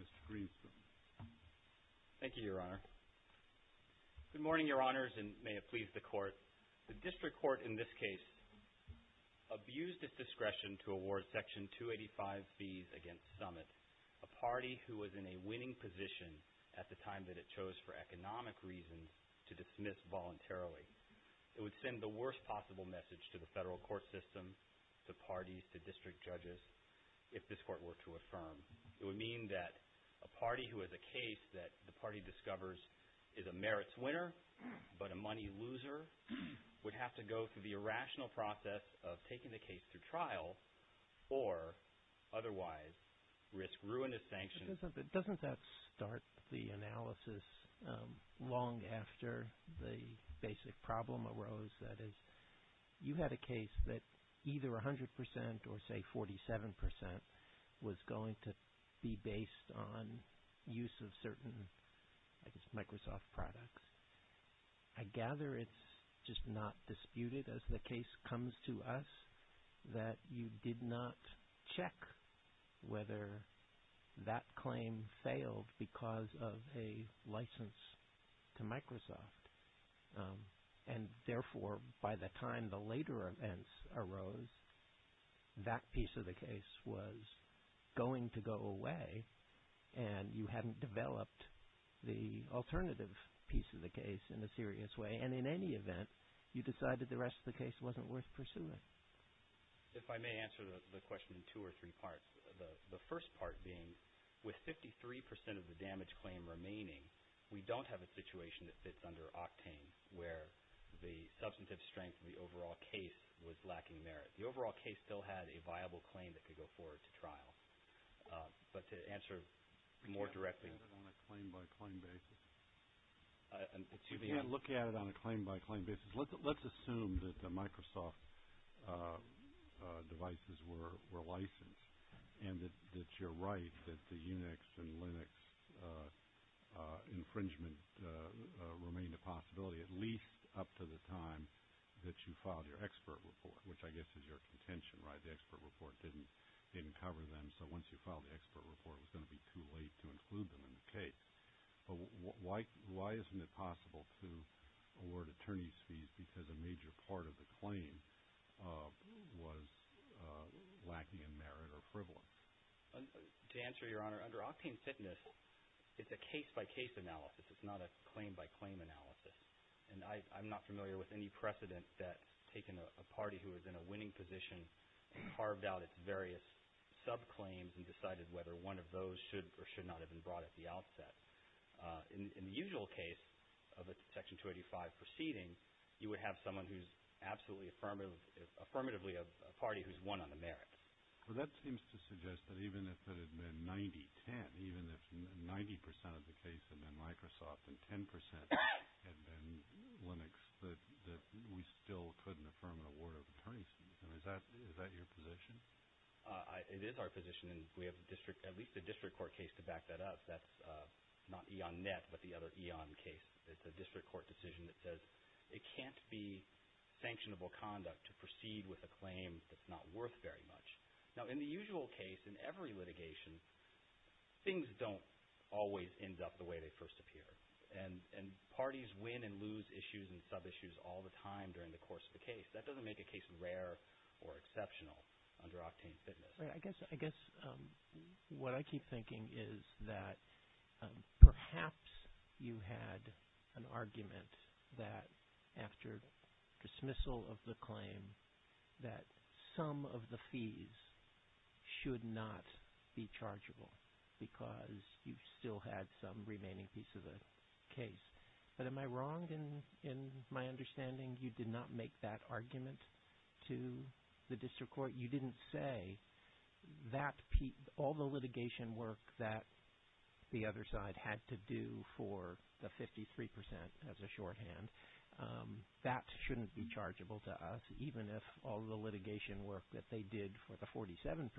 Mr. Greenstone. Thank you, Your Honor. Good morning, Your Honors, and may it please the Court. The district court in this case abused its discretion to award Section 285Bs against Summit, a party who was in a winning position at the time that it chose for economic reasons to dismiss voluntarily. It would send the worst possible message to the federal court system, to parties, to district judges, if this court were to affirm. It would mean that a party who has a case that the party discovers is a merits winner, but a money loser, would have to go through the irrational process of taking the case through trial or otherwise risk ruinous sanctions. Doesn't that start the analysis long after the basic problem arose? That is, you had a case that either 100 percent or say 47 percent was going to be based on use of certain Microsoft products. I gather it's just not disputed as the case comes to us that you did not check whether that claim failed because of a license to Microsoft and therefore by the time the later events arose, that piece of the case was going to go away and you hadn't developed the alternative piece of the case in a serious way and in any event, you decided the rest of the case wasn't worth pursuing. If I may answer the question in two or three parts. The first part being, with 53 percent of the damage claim remaining, we don't have a situation that fits under octane where the substantive strength of the overall case was lacking merit. The overall case still had a viable claim that could go forward to trial. But to answer more directly... You can't look at it on a claim by claim basis. Let's assume that the Microsoft devices were licensed and that you're right that the Unix and Linux infringement remained a possibility at least up to the time that you filed your expert report, which I guess is your contention, right? The expert report didn't cover them, so once you filed the expert report, it was going to be too late to include them in the case. But why isn't it possible to award attorney's fees because a major part of the claim was lacking in merit or frivolity? To answer, Your Honor, under octane fitness, it's a case by case analysis. It's not a claim by claim analysis. And I'm not familiar with any precedent that taking a party who is in a position to have carved out its various sub-claims and decided whether one of those should or should not have been brought at the outset. In the usual case of a Section 285 proceeding, you would have someone who's absolutely affirmatively a party who's won on the merits. Well, that seems to suggest that even if it had been 90-10, even if 90% of the case had been Microsoft and 10% had been Linux, that we still couldn't affirm an award of attorney's fees. Is that your position? It is our position, and we have at least a district court case to back that up. That's not E.ON.Net, but the other E.ON. case. It's a district court decision that says it can't be sanctionable conduct to proceed with a claim that's not worth very much. Now, in the usual case, in every litigation, things don't always end up the way they first appear. And parties win and lose issues and sub-issues all the time during the course of the case. That doesn't make a case rare or exceptional under Octane Fitness. I guess what I keep thinking is that perhaps you had an argument that after dismissal of the claim that some of the fees should not be chargeable because you still had some remaining piece of the case. But am I wrong in my understanding you did not make that argument to the district court? You didn't say that all the litigation work that the other side had to do for the 53% as a shorthand, that shouldn't be chargeable to us, even if all the litigation work that they did for the 47%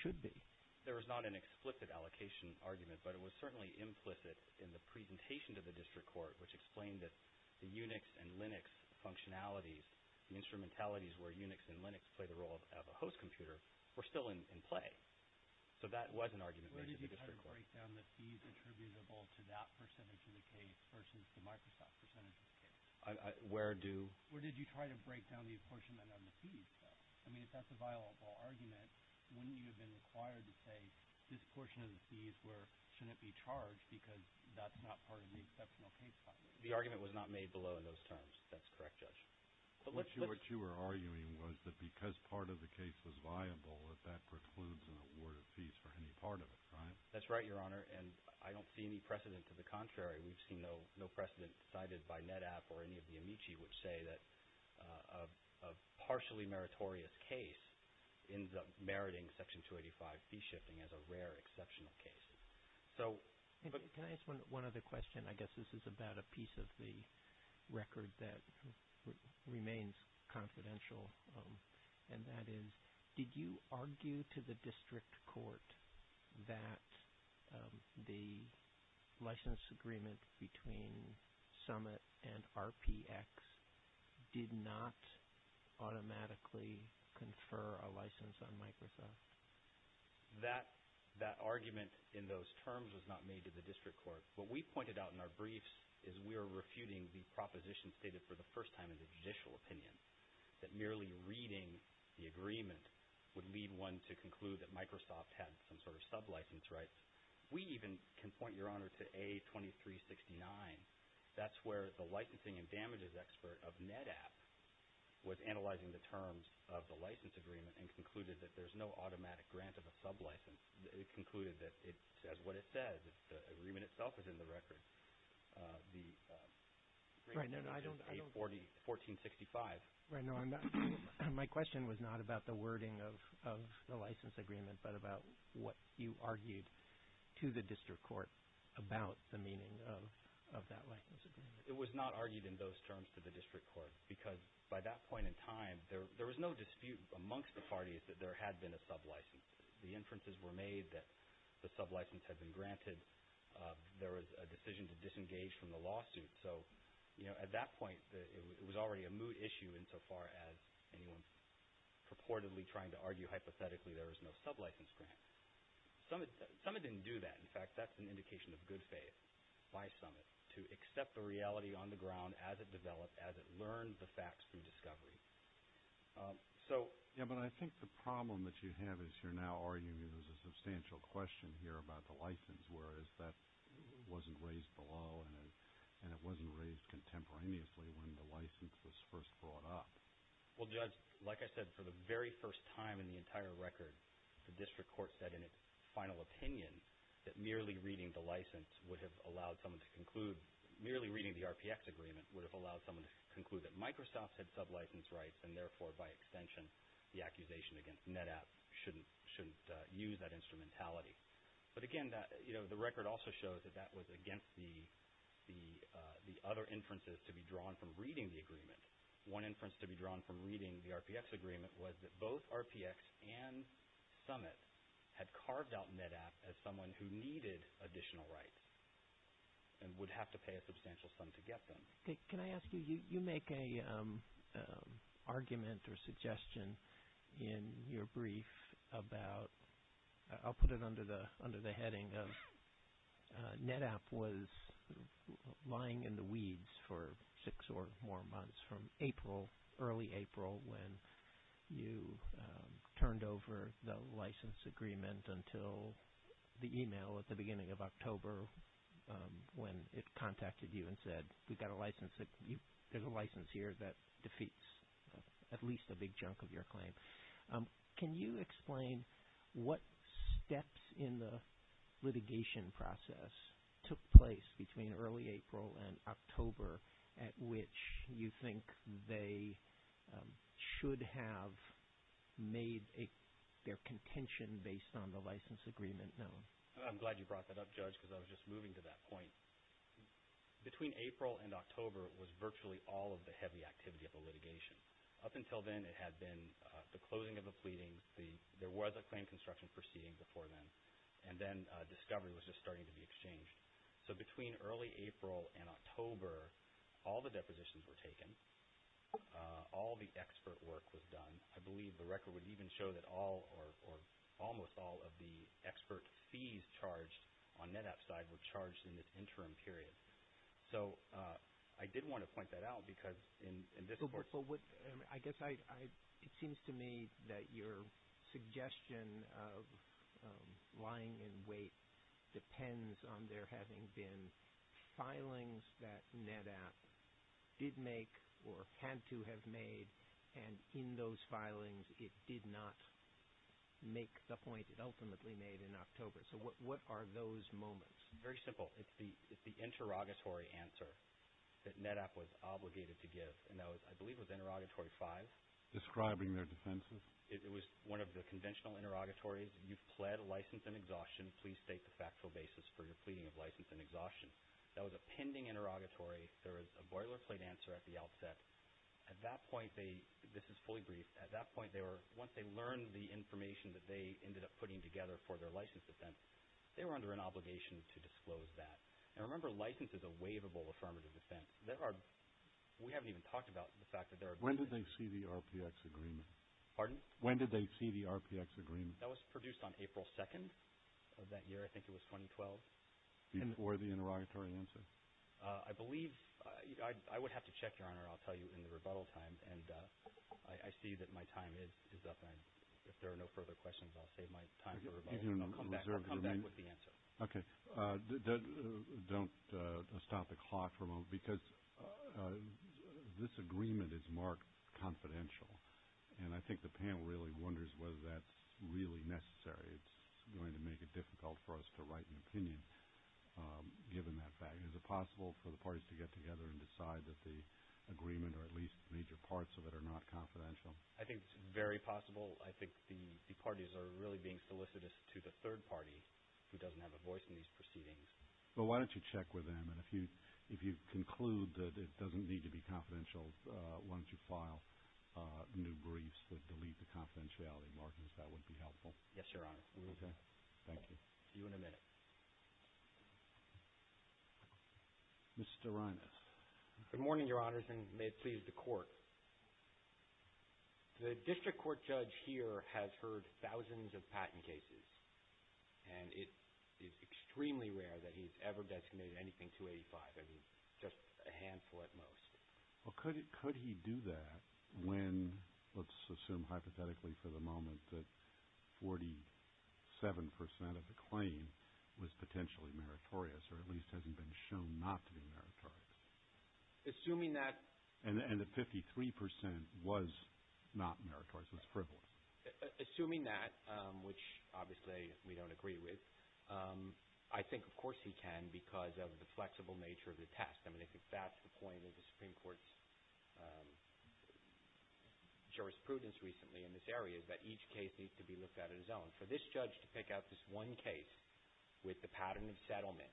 should be. There was not an explicit allocation argument, but it was certainly implicit in the presentation to the district court, which explained that the Unix and Linux functionalities, the instrumentalities where Unix and Linux play the role of a host computer, were still in play. So that was an argument made to the district court. Where did you try to break down the fees attributable to that percentage of the case versus the Microsoft percentage of the case? Where do? Where did you try to break down the apportionment of the fees, though? I mean, if that's a portion of the fees where it shouldn't be charged because that's not part of the exceptional case file. The argument was not made below in those terms. That's correct, Judge. What you were arguing was that because part of the case was viable, that that precludes an award of fees for any part of it, right? That's right, Your Honor, and I don't see any precedent to the contrary. We've seen no precedent cited by NetApp or any of the Amici which say that a partially meritorious case ends up meriting Section 285 fee shifting as a rare exceptional case. Can I ask one other question? I guess this is about a piece of the record that remains confidential, and that is, did you argue to the district court that the license agreement between Summit and RPX did not automatically confer a license on Microsoft? That argument in those terms was not made to the district court. What we pointed out in our briefs is we are refuting the proposition stated for the first time in the judicial opinion that merely reading the agreement would lead one to conclude that Microsoft had some sort of sublicense rights. We even can point, Your Honor, to A2369. That's where the licensing and damages expert of NetApp was analyzing the terms of the license agreement and concluded that there's no automatic grant of a sublicense. It concluded that it says what it says. The agreement itself is in the record. The agreement is A1465. My question was not about the wording of the license agreement but about what you argued to the district court about the meaning of that license agreement. It was not argued in those terms to the district court because by that point in time, there was no dispute amongst the parties that there had been a sublicense. The inferences were made that the sublicense had been granted. There was a decision to disengage from the agreement insofar as anyone purportedly trying to argue hypothetically there is no sublicense grant. Summit didn't do that. In fact, that's an indication of good faith by Summit to accept the reality on the ground as it developed, as it learned the facts through discovery. But I think the problem that you have is you're now arguing there's a substantial question here about the license whereas that wasn't raised below and it wasn't raised contemporaneously when the license was first brought up. Well, Judge, like I said, for the very first time in the entire record, the district court said in its final opinion that merely reading the license would have allowed someone to conclude, merely reading the RPX agreement would have allowed someone to conclude that Microsoft had sublicense rights and therefore by extension, the accusation against NetApp shouldn't use that instrumentality. But again, the record also shows that that was against the other inferences to be drawn from reading the agreement. One inference to be drawn from reading the RPX agreement was that both RPX and Summit had carved out NetApp as someone who needed additional rights and would have to pay a substantial sum to get them. Can I ask you, you make an argument or suggestion in your brief about – I'll put it under the heading of NetApp was lying in the weeds for six or more months from April, early April when you turned over the license agreement until the email at the beginning of October when it contacted you and said we've got a license, there's a license here that defeats at least a big chunk of your claim. Can you explain what steps in the litigation process took place between early April and October at which you think they should have made their contention based on the license agreement known? I'm glad you brought that up, Judge, because I was just moving to that point. Between April and October it was virtually all of the heavy activity of the litigation. Up until then it had been the closing of the pleadings, there was a claim construction proceeding before then, and then discovery was just starting to be exchanged. So between early April and October all the depositions were taken, all the expert work was done. I believe the record would even show that all or almost all of the expert fees charged on NetApp's side were charged in the interim period. So I did want to point that out because in this court... I guess it seems to me that your suggestion of lying in wait depends on there having been filings that NetApp did make or had to have made, and in those filings it did not make the point it ultimately made in October. So what are those moments? Very simple. It's the interrogatory answer that NetApp was obligated to give, and I believe that was interrogatory five. Describing their defenses? It was one of the conventional interrogatories. You've pled license and exhaustion. Please state the factual basis for your pleading of license and exhaustion. That was a pending interrogatory. There was a boilerplate answer at the outset. At that point they, this is for their license defense, they were under an obligation to disclose that. And remember license is a waivable affirmative defense. We haven't even talked about the fact that there are... When did they see the RPX agreement? Pardon? When did they see the RPX agreement? That was produced on April 2nd of that year. I think it was 2012. Before the interrogatory answer? I believe... I would have to check, Your Honor, I'll tell you in the rebuttal time, and I see that my time is up, and if there are no further questions, I'll save my time for rebuttal, and I'll come back with the answer. Okay. Don't stop the clock for a moment, because this agreement is marked confidential, and I think the panel really wonders whether that's really necessary. It's going to make it difficult for us to write an opinion, given that fact. Is it possible for the parties to get together and decide that the agreement, or at least major parts of it, are not confidential? I think it's very possible. I think the parties are really being solicitous to the third party, who doesn't have a voice in these proceedings. Well, why don't you check with them, and if you conclude that it doesn't need to be confidential, why don't you file new briefs that delete the confidentiality markings? That would be helpful. Yes, Your Honor. Okay. Thank you. See you in a minute. Mr. Reines. Good morning, Your Honors, and may it please the Court. The district court judge here has heard thousands of patent cases, and it is extremely rare that he's ever designated anything 285. I mean, just a handful at most. Well, could he do that when, let's assume hypothetically for the moment, that 47 percent of the claim was potentially meritorious, or at least hasn't been shown not to be meritorious? Assuming that And that 53 percent was not meritorious, was frivolous. Assuming that, which obviously we don't agree with, I think, of course, he can, because of the flexible nature of the test. I mean, I think that's the point of the Supreme Court's jurisprudence recently in this area, is that each case needs to be looked at as his own. For this judge to pick out this one case with the pattern of settlement,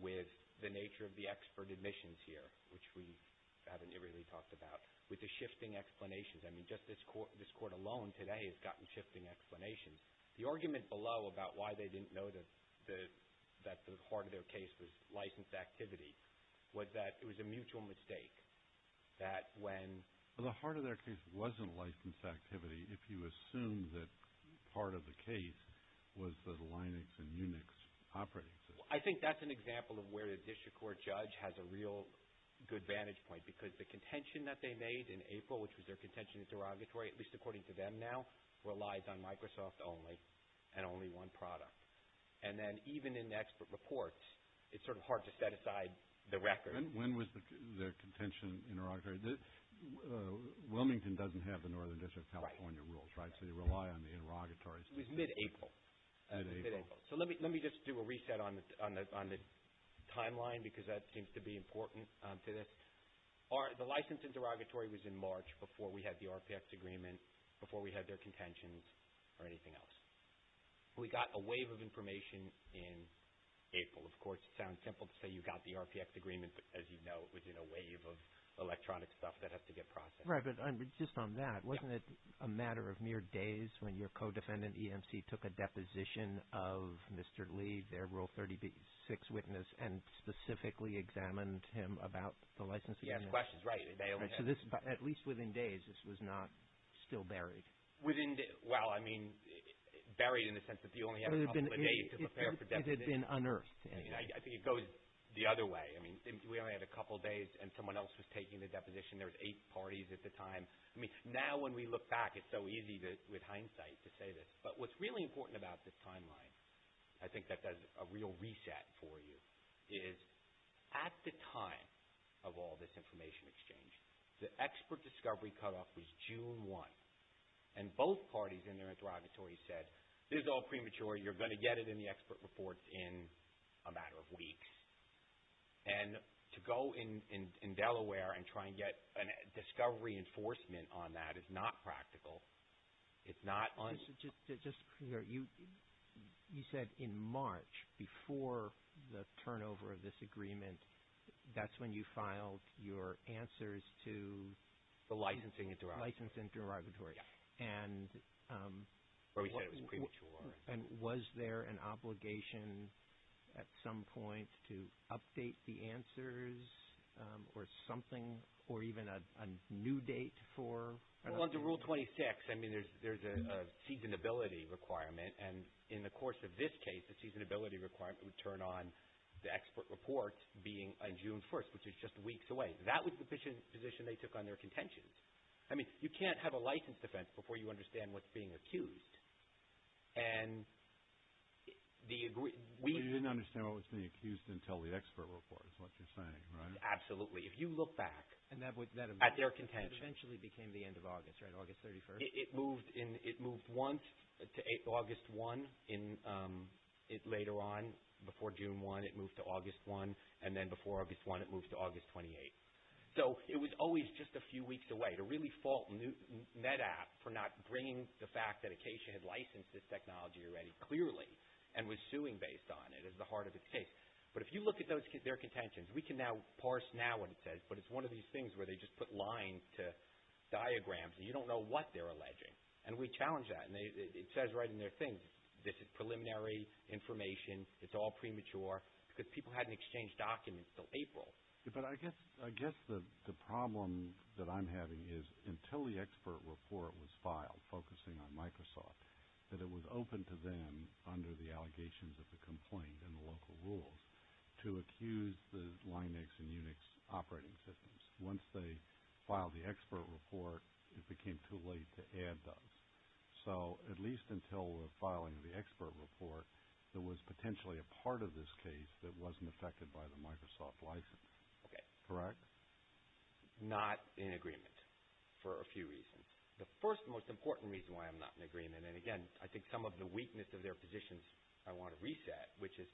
with the nature of the expert admissions here, which we haven't really talked about, with the shifting explanations, I mean, just this Court alone today has gotten shifting explanations. The argument below about why they didn't know that the heart of their case was licensed activity was that it was a mutual mistake, that when Well, the heart of their case wasn't licensed activity, if you assume that part of the case was the Linux and Unix operating system. I think that's an example of where the district court judge has a real good vantage point, because the contention that they made in April, which was their contention in derogatory, at least according to them now, relies on Microsoft only, and only one product. And then even in expert reports, it's sort of hard to set aside the record. When was the contention in derogatory? Wilmington doesn't have the Northern District of California rules, right? So you rely on the derogatories. It was mid-April. Mid-April. So let me just do a reset on the timeline, because that seems to be important to this. The license in derogatory was in March before we had the RPX agreement, before we had their contentions, or anything else. We got a wave of information in April. Of course, it sounds simple to say you got the RPX agreement, but as you know, it was in a wave of electronic stuff that has to get processed. Right, but just on that, wasn't it a matter of mere days when your co-defendant, EMC, took a deposition of Mr. Lee, their Rule 36 witness, and specifically examined him about the license agreement? Yes, that's right. At least within days, this was not still buried. Well, I mean, buried in the sense that you only had a couple of days to prepare for deposition. It had been unearthed. I think it goes the other way. I mean, we only had a couple of days, and someone else was taking the deposition. There was eight parties at the time. I mean, now when we look back, it's so easy with hindsight to say this. But what's really important about this timeline, I think that does a real reset for you, is at the time of all this information exchange, the expert discovery cutoff was June 1. And both parties in their interrogatories said, this is all premature, you're going to get it in the expert reports in a matter of weeks. And to go in Delaware and try and get discovery enforcement on that is not practical. It's not un- Just to clear, you said in March, before the turnover of this agreement, that's when you filed your answers to the licensing interrogatory. Licensing interrogatory. Yes. Where we said it was premature. And was there an obligation at some point to update the answers or something, or even a new date for- Well, under Rule 26, I mean, there's a seasonability requirement. And in the course of this case, the seasonability requirement would turn on the expert report being June 1, which is just weeks away. That was the position they took on their contentions. I mean, you can't have a licensed defense before you understand what's being accused. And the- But you didn't understand what was being accused until the expert report is what you're saying, right? Absolutely. If you look back at their contentions- And that eventually became the end of August, right? August 31st? It moved once to August 1. Later on, before June 1, it moved to August 1. And then before August 1, it moved to August 28. So it was always just a few weeks away. To really fault NetApp for not bringing the fact that Acacia had licensed this technology already clearly and was suing based on it is the heart of the case. But if you look at their contentions, we can now parse now what it says, but it's one of these things where they just put lines to diagrams, and you don't know what they're alleging. And we challenge that. And it says right in their thing, this is preliminary information, it's all premature, because people hadn't exchanged documents until April. But I guess the problem that I'm having is until the expert report was filed, focusing on Microsoft, that it was open to them under the allegations of the complaint and the local rules to accuse the Linux and Unix operating systems. Once they filed the expert report, it became too late to add those. So at least until the filing of the expert report, there was potentially a part of this case that wasn't affected by the Microsoft license. Okay. Correct? Not in agreement for a few reasons. The first and most important reason why I'm not in agreement, and again, I think some of the weakness of their positions I want to reset, which is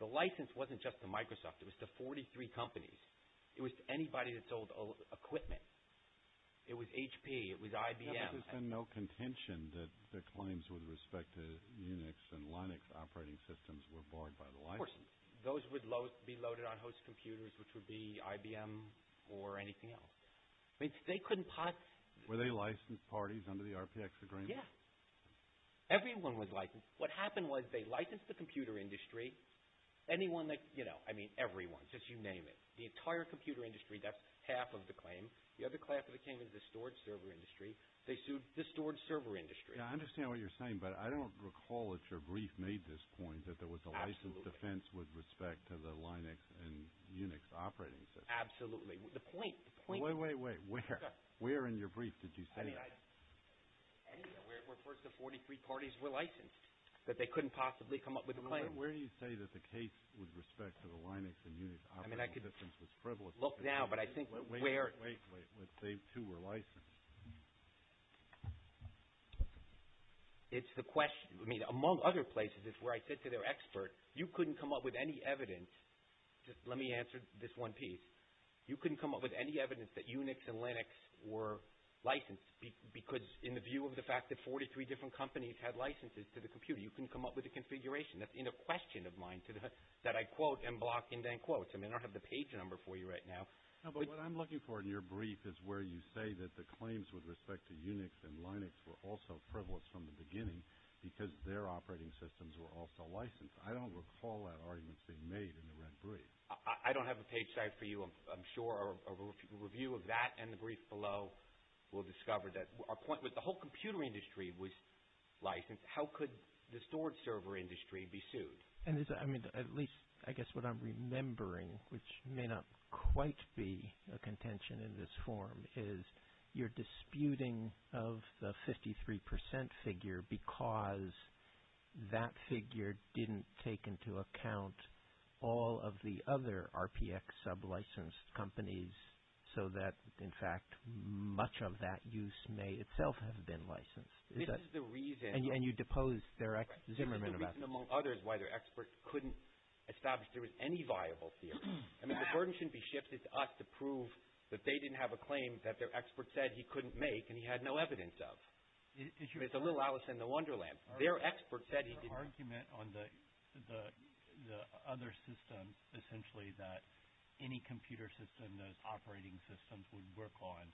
the license wasn't just to Microsoft. It was to 43 companies. It was to anybody that sold equipment. It was HP. It was IBM. But there's been no contention that the claims with respect to Unix and Linux operating systems were barred by the license. Of course. Those would be loaded on host computers, which would be IBM or anything else. Were they licensed parties under the RPX agreement? Yes. Everyone was licensed. What happened was they licensed the computer industry, anyone, I mean everyone, just you name it. The entire computer industry, that's half of the claim. The other half of the claim is the storage server industry. They sued the storage server industry. I understand what you're saying, but I don't recall if your brief made this point that there was a license defense with respect to the Linux and Unix operating systems. Absolutely. The point. Wait, wait, wait. Where in your brief did you say that? Anywhere where first the 43 parties were licensed, that they couldn't possibly come up with a claim. Where do you say that the case with respect to the Linux and Unix operating systems was frivolous? Look now, but I think where. Wait, wait, wait. They too were licensed. It's the question. I mean among other places it's where I said to their expert, you couldn't come up with any evidence. Just let me answer this one piece. You couldn't come up with any evidence that Unix and Linux were licensed because in the view of the fact that 43 different companies had licenses to the computer, you couldn't come up with a configuration. That's a question of mine that I quote and block and then quote. I mean I don't have the page number for you right now. No, but what I'm looking for in your brief is where you say that the claims with respect to Unix and Linux were also frivolous from the beginning because their operating systems were also licensed. I don't recall that argument being made in the red brief. I don't have a page for you. I'm sure a review of that and the brief below will discover that our point was the whole computer industry was licensed. How could the storage server industry be sued? I mean at least I guess what I'm remembering, which may not quite be a contention in this form, is you're disputing of the 53% figure because that figure didn't take into account all of the other RPX sub-licensed companies so that, in fact, much of that use may itself have been licensed. This is the reason. And you depose Zimmerman about that. This is the reason, among others, why their expert couldn't establish there was any viable theory. I mean the burden shouldn't be shifted to us to prove that they didn't have a claim that their expert said he couldn't make and he had no evidence of. It's a little Alice in the Wonderland. Their argument on the other system essentially that any computer system, those operating systems we work on,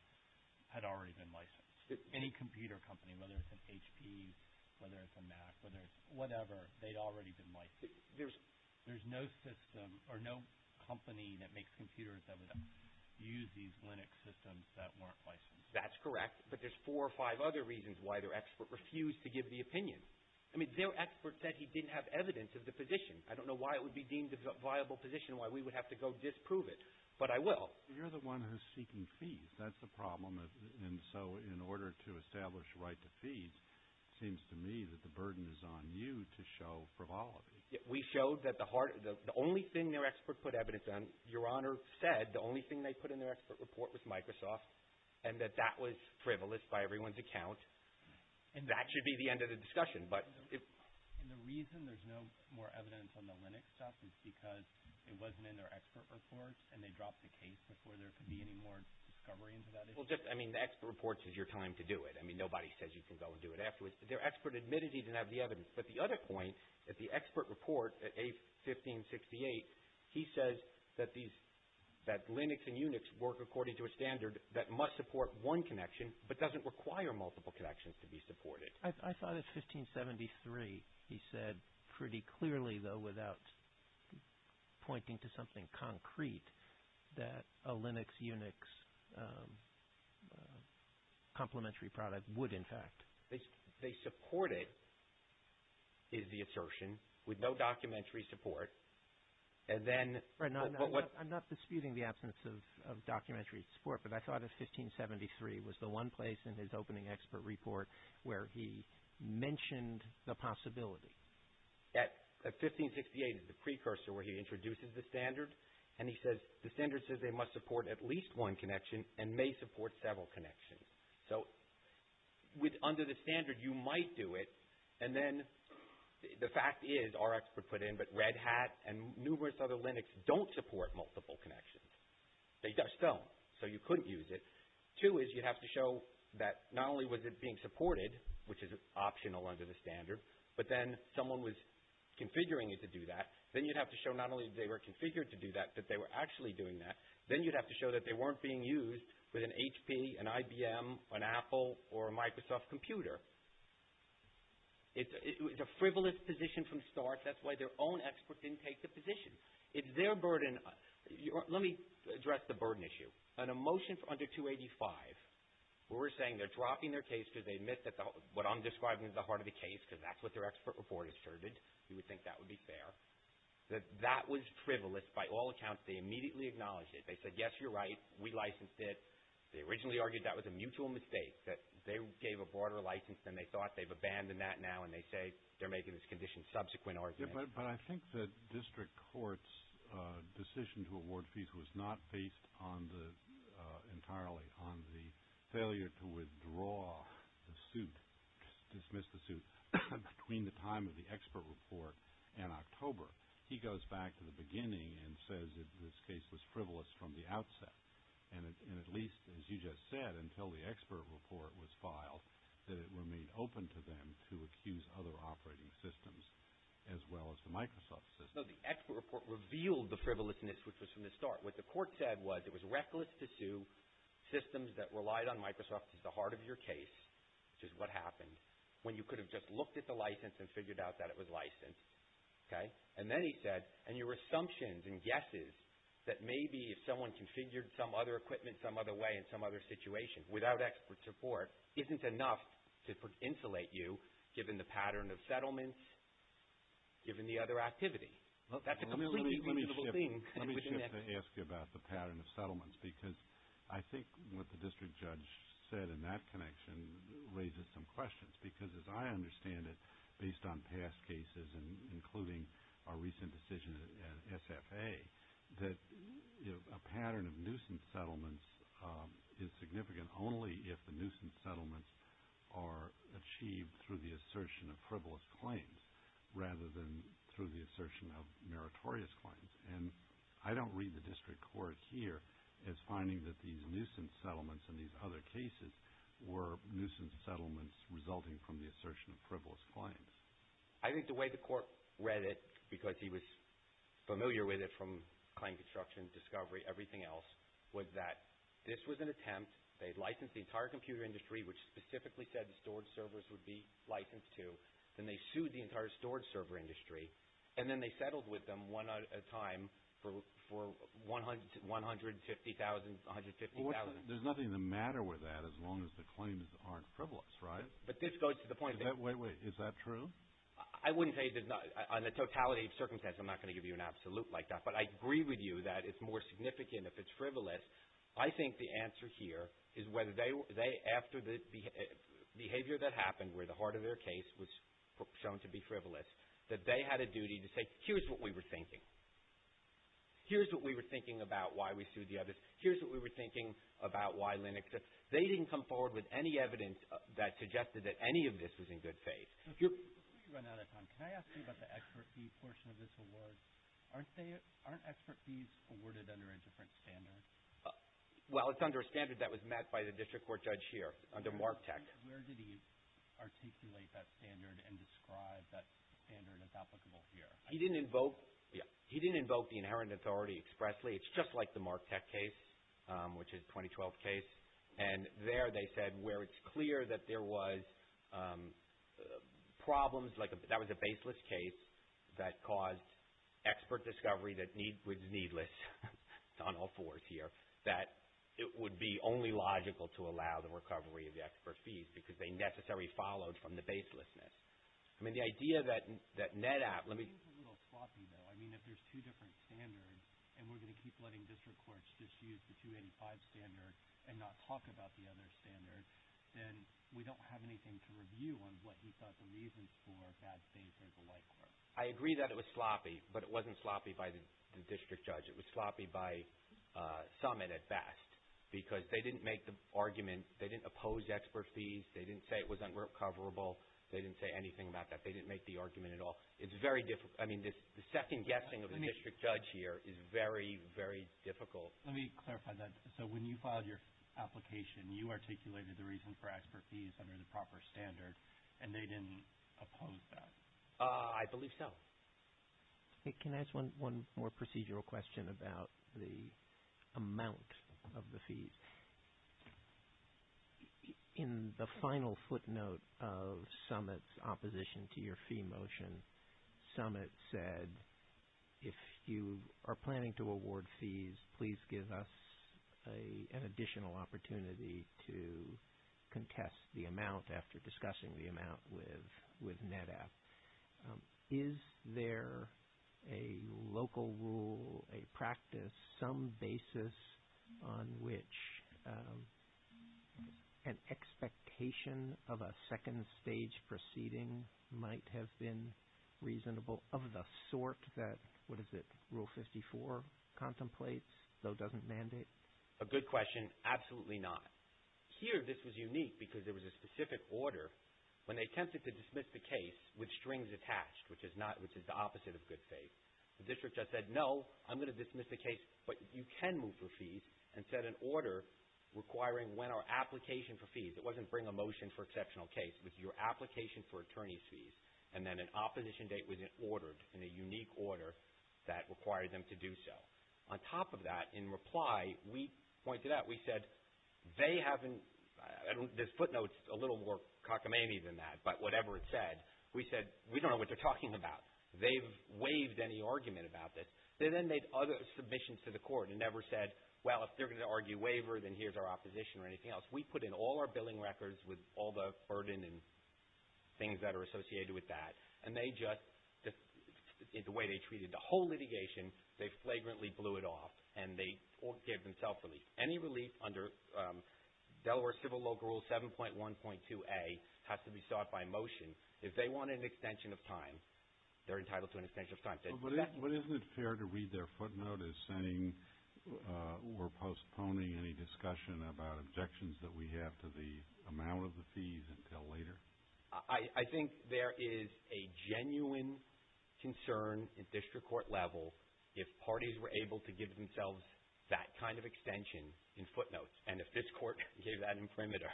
had already been licensed. Any computer company, whether it's an HP, whether it's a Mac, whether it's whatever, they'd already been licensed. There's no system or no company that makes computers that would use these Linux systems that weren't licensed. That's correct. But there's four or five other reasons why their expert refused to give the opinion. I mean their expert said he didn't have evidence of the position. I don't know why it would be deemed a viable position, why we would have to go disprove it, but I will. You're the one who's seeking fees. That's the problem. And so in order to establish right to fees, it seems to me that the burden is on you to show frivolity. We showed that the only thing their expert put evidence on, Your Honor said the only thing they put in their expert report was Microsoft and that that was frivolous by everyone's account. And that should be the end of the discussion. And the reason there's no more evidence on the Linux stuff is because it wasn't in their expert report and they dropped the case before there could be any more discovery into that issue. Well, just, I mean, the expert report says you're telling them to do it. I mean, nobody says you can go and do it afterwards. But their expert admitted he didn't have the evidence. But the other point that the expert report at A1568, he says that Linux and Unix work according to a standard that must support one connection but doesn't require multiple connections to be supported. I thought at A1573 he said pretty clearly, though, without pointing to something concrete, that a Linux, Unix complementary product would, in fact. They support it, is the assertion, with no documentary support. And then. I'm not disputing the absence of documentary support, but I thought A1573 was the one place in his opening expert report where he mentioned the possibility. At A1568 is the precursor where he introduces the standard. And he says the standard says they must support at least one connection and may support several connections. So under the standard, you might do it. And then the fact is, our expert put in, but Red Hat and numerous other Linux don't support multiple connections. They just don't. So you couldn't use it. Two is you'd have to show that not only was it being supported, which is optional under the standard, but then someone was configuring it to do that. Then you'd have to show not only they were configured to do that, but they were actually doing that. Then you'd have to show that they weren't being used with an HP, an IBM, an Apple, or a Microsoft computer. It's a frivolous position from the start. That's why their own expert didn't take the position. It's their burden. Let me address the burden issue. On a motion under 285, we're saying they're dropping their case because they missed what I'm describing as the heart of the case, because that's what their expert report asserted. We think that would be fair. That was frivolous by all accounts. They immediately acknowledged it. They said, yes, you're right. We licensed it. They originally argued that was a mutual mistake, that they gave a broader license than they thought. They've abandoned that now, and they say they're making this condition subsequent arguments. But I think the district court's decision to award fees was not based entirely on the failure to withdraw the suit, dismiss the suit, between the time of the expert report and October. He goes back to the beginning and says that this case was frivolous from the outset, and at least, as you just said, until the expert report was filed, that it remained open to them to accuse other operating systems as well as the Microsoft system. No, the expert report revealed the frivolousness, which was from the start. What the court said was it was reckless to sue systems that relied on Microsoft at the heart of your case, which is what happened, when you could have just looked at the license and figured out that it was licensed. And then he said, and your assumptions and guesses that maybe if someone configured some other equipment some other way in some other situation without expert support isn't enough to insulate you, given the pattern of settlements, given the other activity. That's a completely reasonable thing. Let me shift to ask you about the pattern of settlements, because I think what the district judge said in that connection raises some questions, because as I understand it, based on past cases, including our recent decision at SFA, that a pattern of nuisance settlements is significant only if the nuisance settlements are achieved through the assertion of frivolous claims rather than through the assertion of meritorious claims. And I don't read the district court here as finding that these nuisance settlements and these other cases were nuisance settlements resulting from the assertion of frivolous claims. I think the way the court read it, because he was familiar with it from claim construction, discovery, everything else, was that this was an attempt. They had licensed the entire computer industry, which specifically said the storage servers would be licensed to. Then they sued the entire storage server industry, and then they settled with them one at a time for $150,000. There's nothing the matter with that as long as the claims aren't frivolous, right? But this goes to the point that – Wait, wait. Is that true? I wouldn't say it is not. On the totality of circumstances, I'm not going to give you an absolute like that. But I agree with you that it's more significant if it's frivolous. I think the answer here is whether they – after the behavior that happened, where the heart of their case was shown to be frivolous, that they had a duty to say, here's what we were thinking. Here's what we were thinking about why we sued the others. Here's what we were thinking about why Linux. They didn't come forward with any evidence that suggested that any of this was in good faith. Let me run out of time. Can I ask you about the expert fee portion of this award? Aren't expert fees awarded under a different standard? Well, it's under a standard that was met by the district court judge here, under MARC Tech. Where did he articulate that standard and describe that standard as applicable here? He didn't invoke the inherent authority expressly. It's just like the MARC Tech case, which is a 2012 case. And there they said where it's clear that there was problems, that was a baseless case that caused expert discovery that was needless on all fours here, that it would be only logical to allow the recovery of the expert fees because they necessarily followed from the baselessness. I mean, the idea that NetApp – let me – I think it's a little sloppy, though. I mean, if there's two different standards and we're going to keep letting district courts just use the 285 standard and not talk about the other standard, then we don't have anything to review on what he thought the reasons for that baseless alike were. I agree that it was sloppy, but it wasn't sloppy by the district judge. It was sloppy by some at best because they didn't make the argument. They didn't oppose expert fees. They didn't say it was unrecoverable. They didn't say anything about that. They didn't make the argument at all. It's very – I mean, the second guessing of the district judge here is very, very difficult. Let me clarify that. So when you filed your application, you articulated the reason for expert fees under the proper standard, and they didn't oppose that? I believe so. Can I ask one more procedural question about the amount of the fees? In the final footnote of Summit's opposition to your fee motion, Summit said, if you are planning to award fees, please give us an additional opportunity to contest the amount after discussing the amount with NEDAP. Is there a local rule, a practice, some basis on which an expectation of a second stage proceeding might have been reasonable of the sort that, what is it, Rule 54 contemplates, though doesn't mandate? A good question. Absolutely not. Here, this was unique because there was a specific order. When they attempted to dismiss the case with strings attached, which is the opposite of good faith, the district judge said, no, I'm going to dismiss the case, but you can move for fees and set an order requiring when our application for fees – it wasn't bring a motion for exceptional case, it was your application for attorney's fees, and then an opposition date was ordered in a unique order that required them to do so. On top of that, in reply, we pointed out, we said, they haven't – this footnote's a little more cockamamie than that, but whatever it said, we said, we don't know what they're talking about. They've waived any argument about this. They then made other submissions to the court and never said, well, if they're going to argue waiver, then here's our opposition or anything else. We put in all our billing records with all the burden and things that are associated with that, and they just – the way they treated the whole litigation, they flagrantly blew it off, and they gave them self-relief. Any relief under Delaware Civil Local Rule 7.1.2a has to be sought by motion. If they want an extension of time, they're entitled to an extension of time. But isn't it fair to read their footnote as saying we're postponing any discussion about objections that we have to the amount of the fees until later? I think there is a genuine concern at district court level if parties were able to give themselves that kind of extension in footnotes, and if this court gave that in perimeter,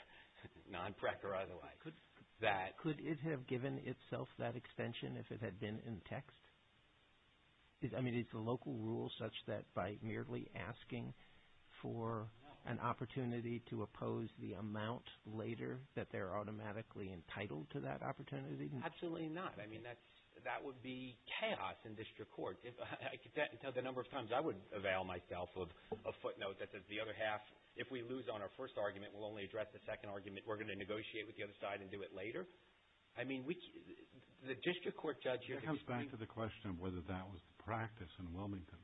non-prec or otherwise. Could it have given itself that extension if it had been in text? I mean, is the local rule such that by merely asking for an opportunity to oppose the amount later that they're automatically entitled to that opportunity? Absolutely not. I mean, that would be chaos in district court. I could tell the number of times I would avail myself of a footnote that says the other half, if we lose on our first argument, we'll only address the second argument. We're going to negotiate with the other side and do it later. I mean, the district court judge here can explain. It comes back to the question of whether that was the practice in Wilmington.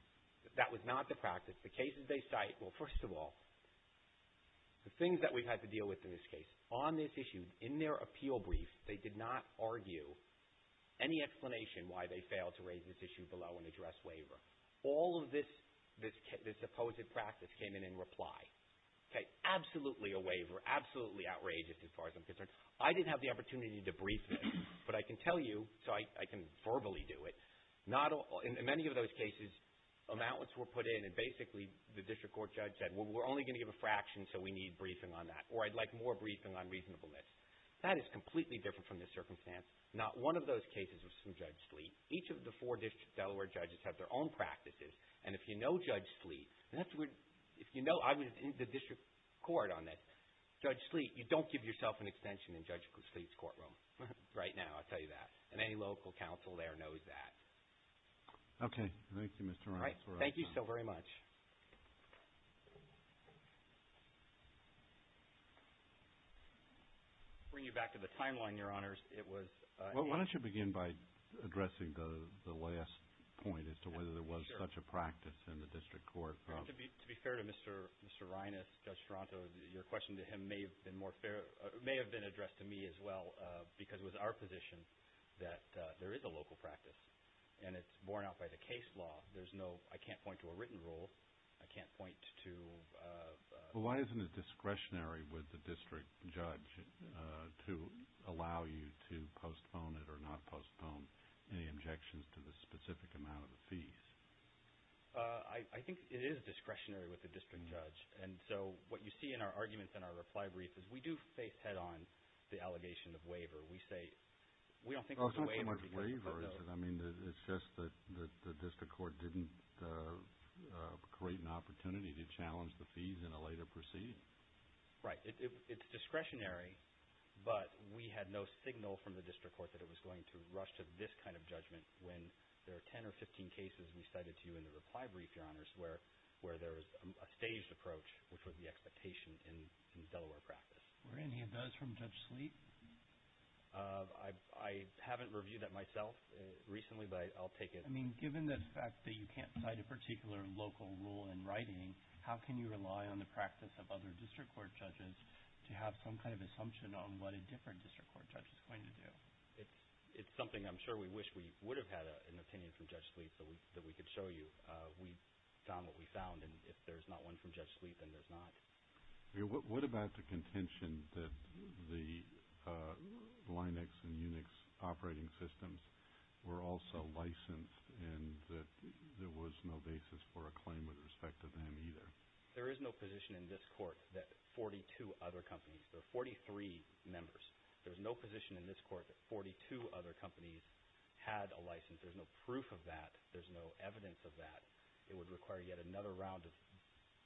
That was not the practice. The cases they cite, well, first of all, the things that we've had to deal with in this case, on this issue, in their appeal brief, they did not argue any explanation why they failed to raise this issue below and address waiver. All of this supposed practice came in in reply. Okay. Absolutely a waiver. Absolutely outrageous as far as I'm concerned. I didn't have the opportunity to brief them, but I can tell you, so I can verbally do it, in many of those cases, amounts were put in and basically the district court judge said, well, we're only going to give a fraction, so we need briefing on that, or I'd like more briefing on reasonableness. That is completely different from this circumstance. Not one of those cases was from Judge Sleet. Each of the four district Delaware judges have their own practices, and if you know Judge Sleet, if you know I was in the district court on this, Judge Sleet, you don't give yourself an extension in Judge Sleet's courtroom right now. I'll tell you that. And any local counsel there knows that. Okay. Thank you, Mr. Reines. Thank you so very much. I'll bring you back to the timeline, Your Honors. Why don't you begin by addressing the last point as to whether there was such a practice in the district court. To be fair to Mr. Reines, Judge Toronto, your question to him may have been addressed to me as well, because it was our position that there is a local practice, and it's borne out by the case law. There's no – I can't point to a written rule. I can't point to – Well, why isn't it discretionary with the district judge to allow you to postpone it or not postpone any objections to the specific amount of the fees? I think it is discretionary with the district judge, and so what you see in our arguments in our reply brief is we do face head-on the allegation of waiver. We say – we don't think there's a waiver because of those. I mean, it's just that the district court didn't create an opportunity to challenge the fees in a later proceed. Right. It's discretionary, but we had no signal from the district court that it was going to rush to this kind of judgment when there are 10 or 15 cases we cited to you in the reply brief, Your Honors, where there was a staged approach, which was the expectation in Delaware practice. Were any of those from Judge Sleet? I haven't reviewed that myself recently, but I'll take it. I mean, given the fact that you can't cite a particular local rule in writing, how can you rely on the practice of other district court judges to have some kind of assumption on what a different district court judge is going to do? It's something I'm sure we wish we would have had an opinion from Judge Sleet that we could show you. We found what we found, and if there's not one from Judge Sleet, then there's not. What about the contention that the Linux and Unix operating systems were also licensed and that there was no basis for a claim with respect to them either? There is no position in this court that 42 other companies or 43 members, there's no position in this court that 42 other companies had a license. There's no proof of that. There's no evidence of that. It would require yet another round of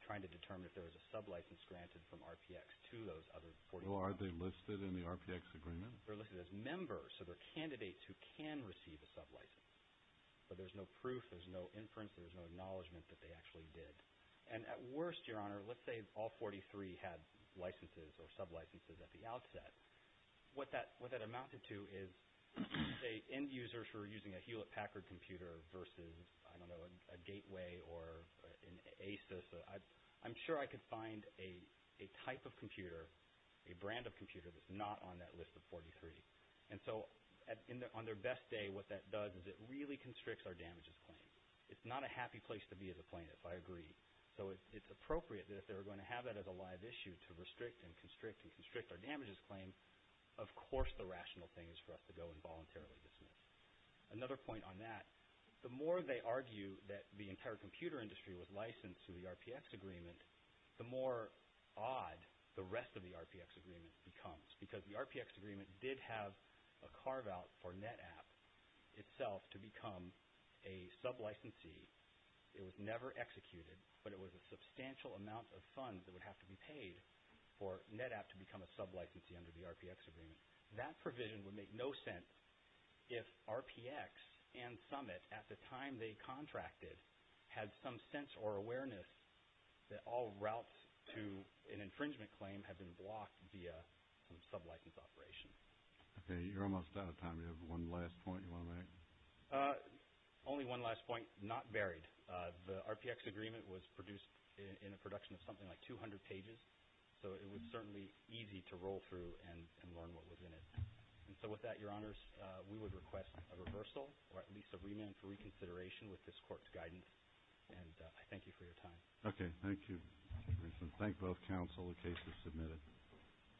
trying to determine if there was a sublicense granted from RPX to those other 43. Are they listed in the RPX agreement? They're listed as members, so they're candidates who can receive a sublicense. But there's no proof, there's no inference, there's no acknowledgement that they actually did. And at worst, Your Honor, let's say all 43 had licenses or sublicenses at the outset. What that amounted to is, say, end users who were using a Hewlett-Packard computer versus, I don't know, a Gateway or an Asus. I'm sure I could find a type of computer, a brand of computer that's not on that list of 43. And so on their best day, what that does is it really constricts our damages claim. It's not a happy place to be as a plaintiff. I agree. So it's appropriate that if they were going to have that as a live issue to restrict and constrict and constrict our damages claim, of course the rational thing is for us to go and voluntarily dismiss. Another point on that. The more they argue that the entire computer industry was licensed through the RPX agreement, the more odd the rest of the RPX agreement becomes. Because the RPX agreement did have a carve-out for NetApp itself to become a sublicensee. It was never executed, but it was a substantial amount of funds that would have to be paid for NetApp to become a sublicensee under the RPX agreement. That provision would make no sense if RPX and Summit, at the time they contracted, had some sense or awareness that all routes to an infringement claim had been blocked via some sublicense operation. Okay, you're almost out of time. Do you have one last point you want to make? Only one last point, not buried. The RPX agreement was produced in a production of something like 200 pages, so it was certainly easy to roll through and learn what was in it. And so with that, Your Honors, we would request a reversal, or at least a remand for reconsideration with this Court's guidance, and I thank you for your time. Okay, thank you. Thank both counsel, the case is submitted. Thank you. Thank you. Thank you. Thank you.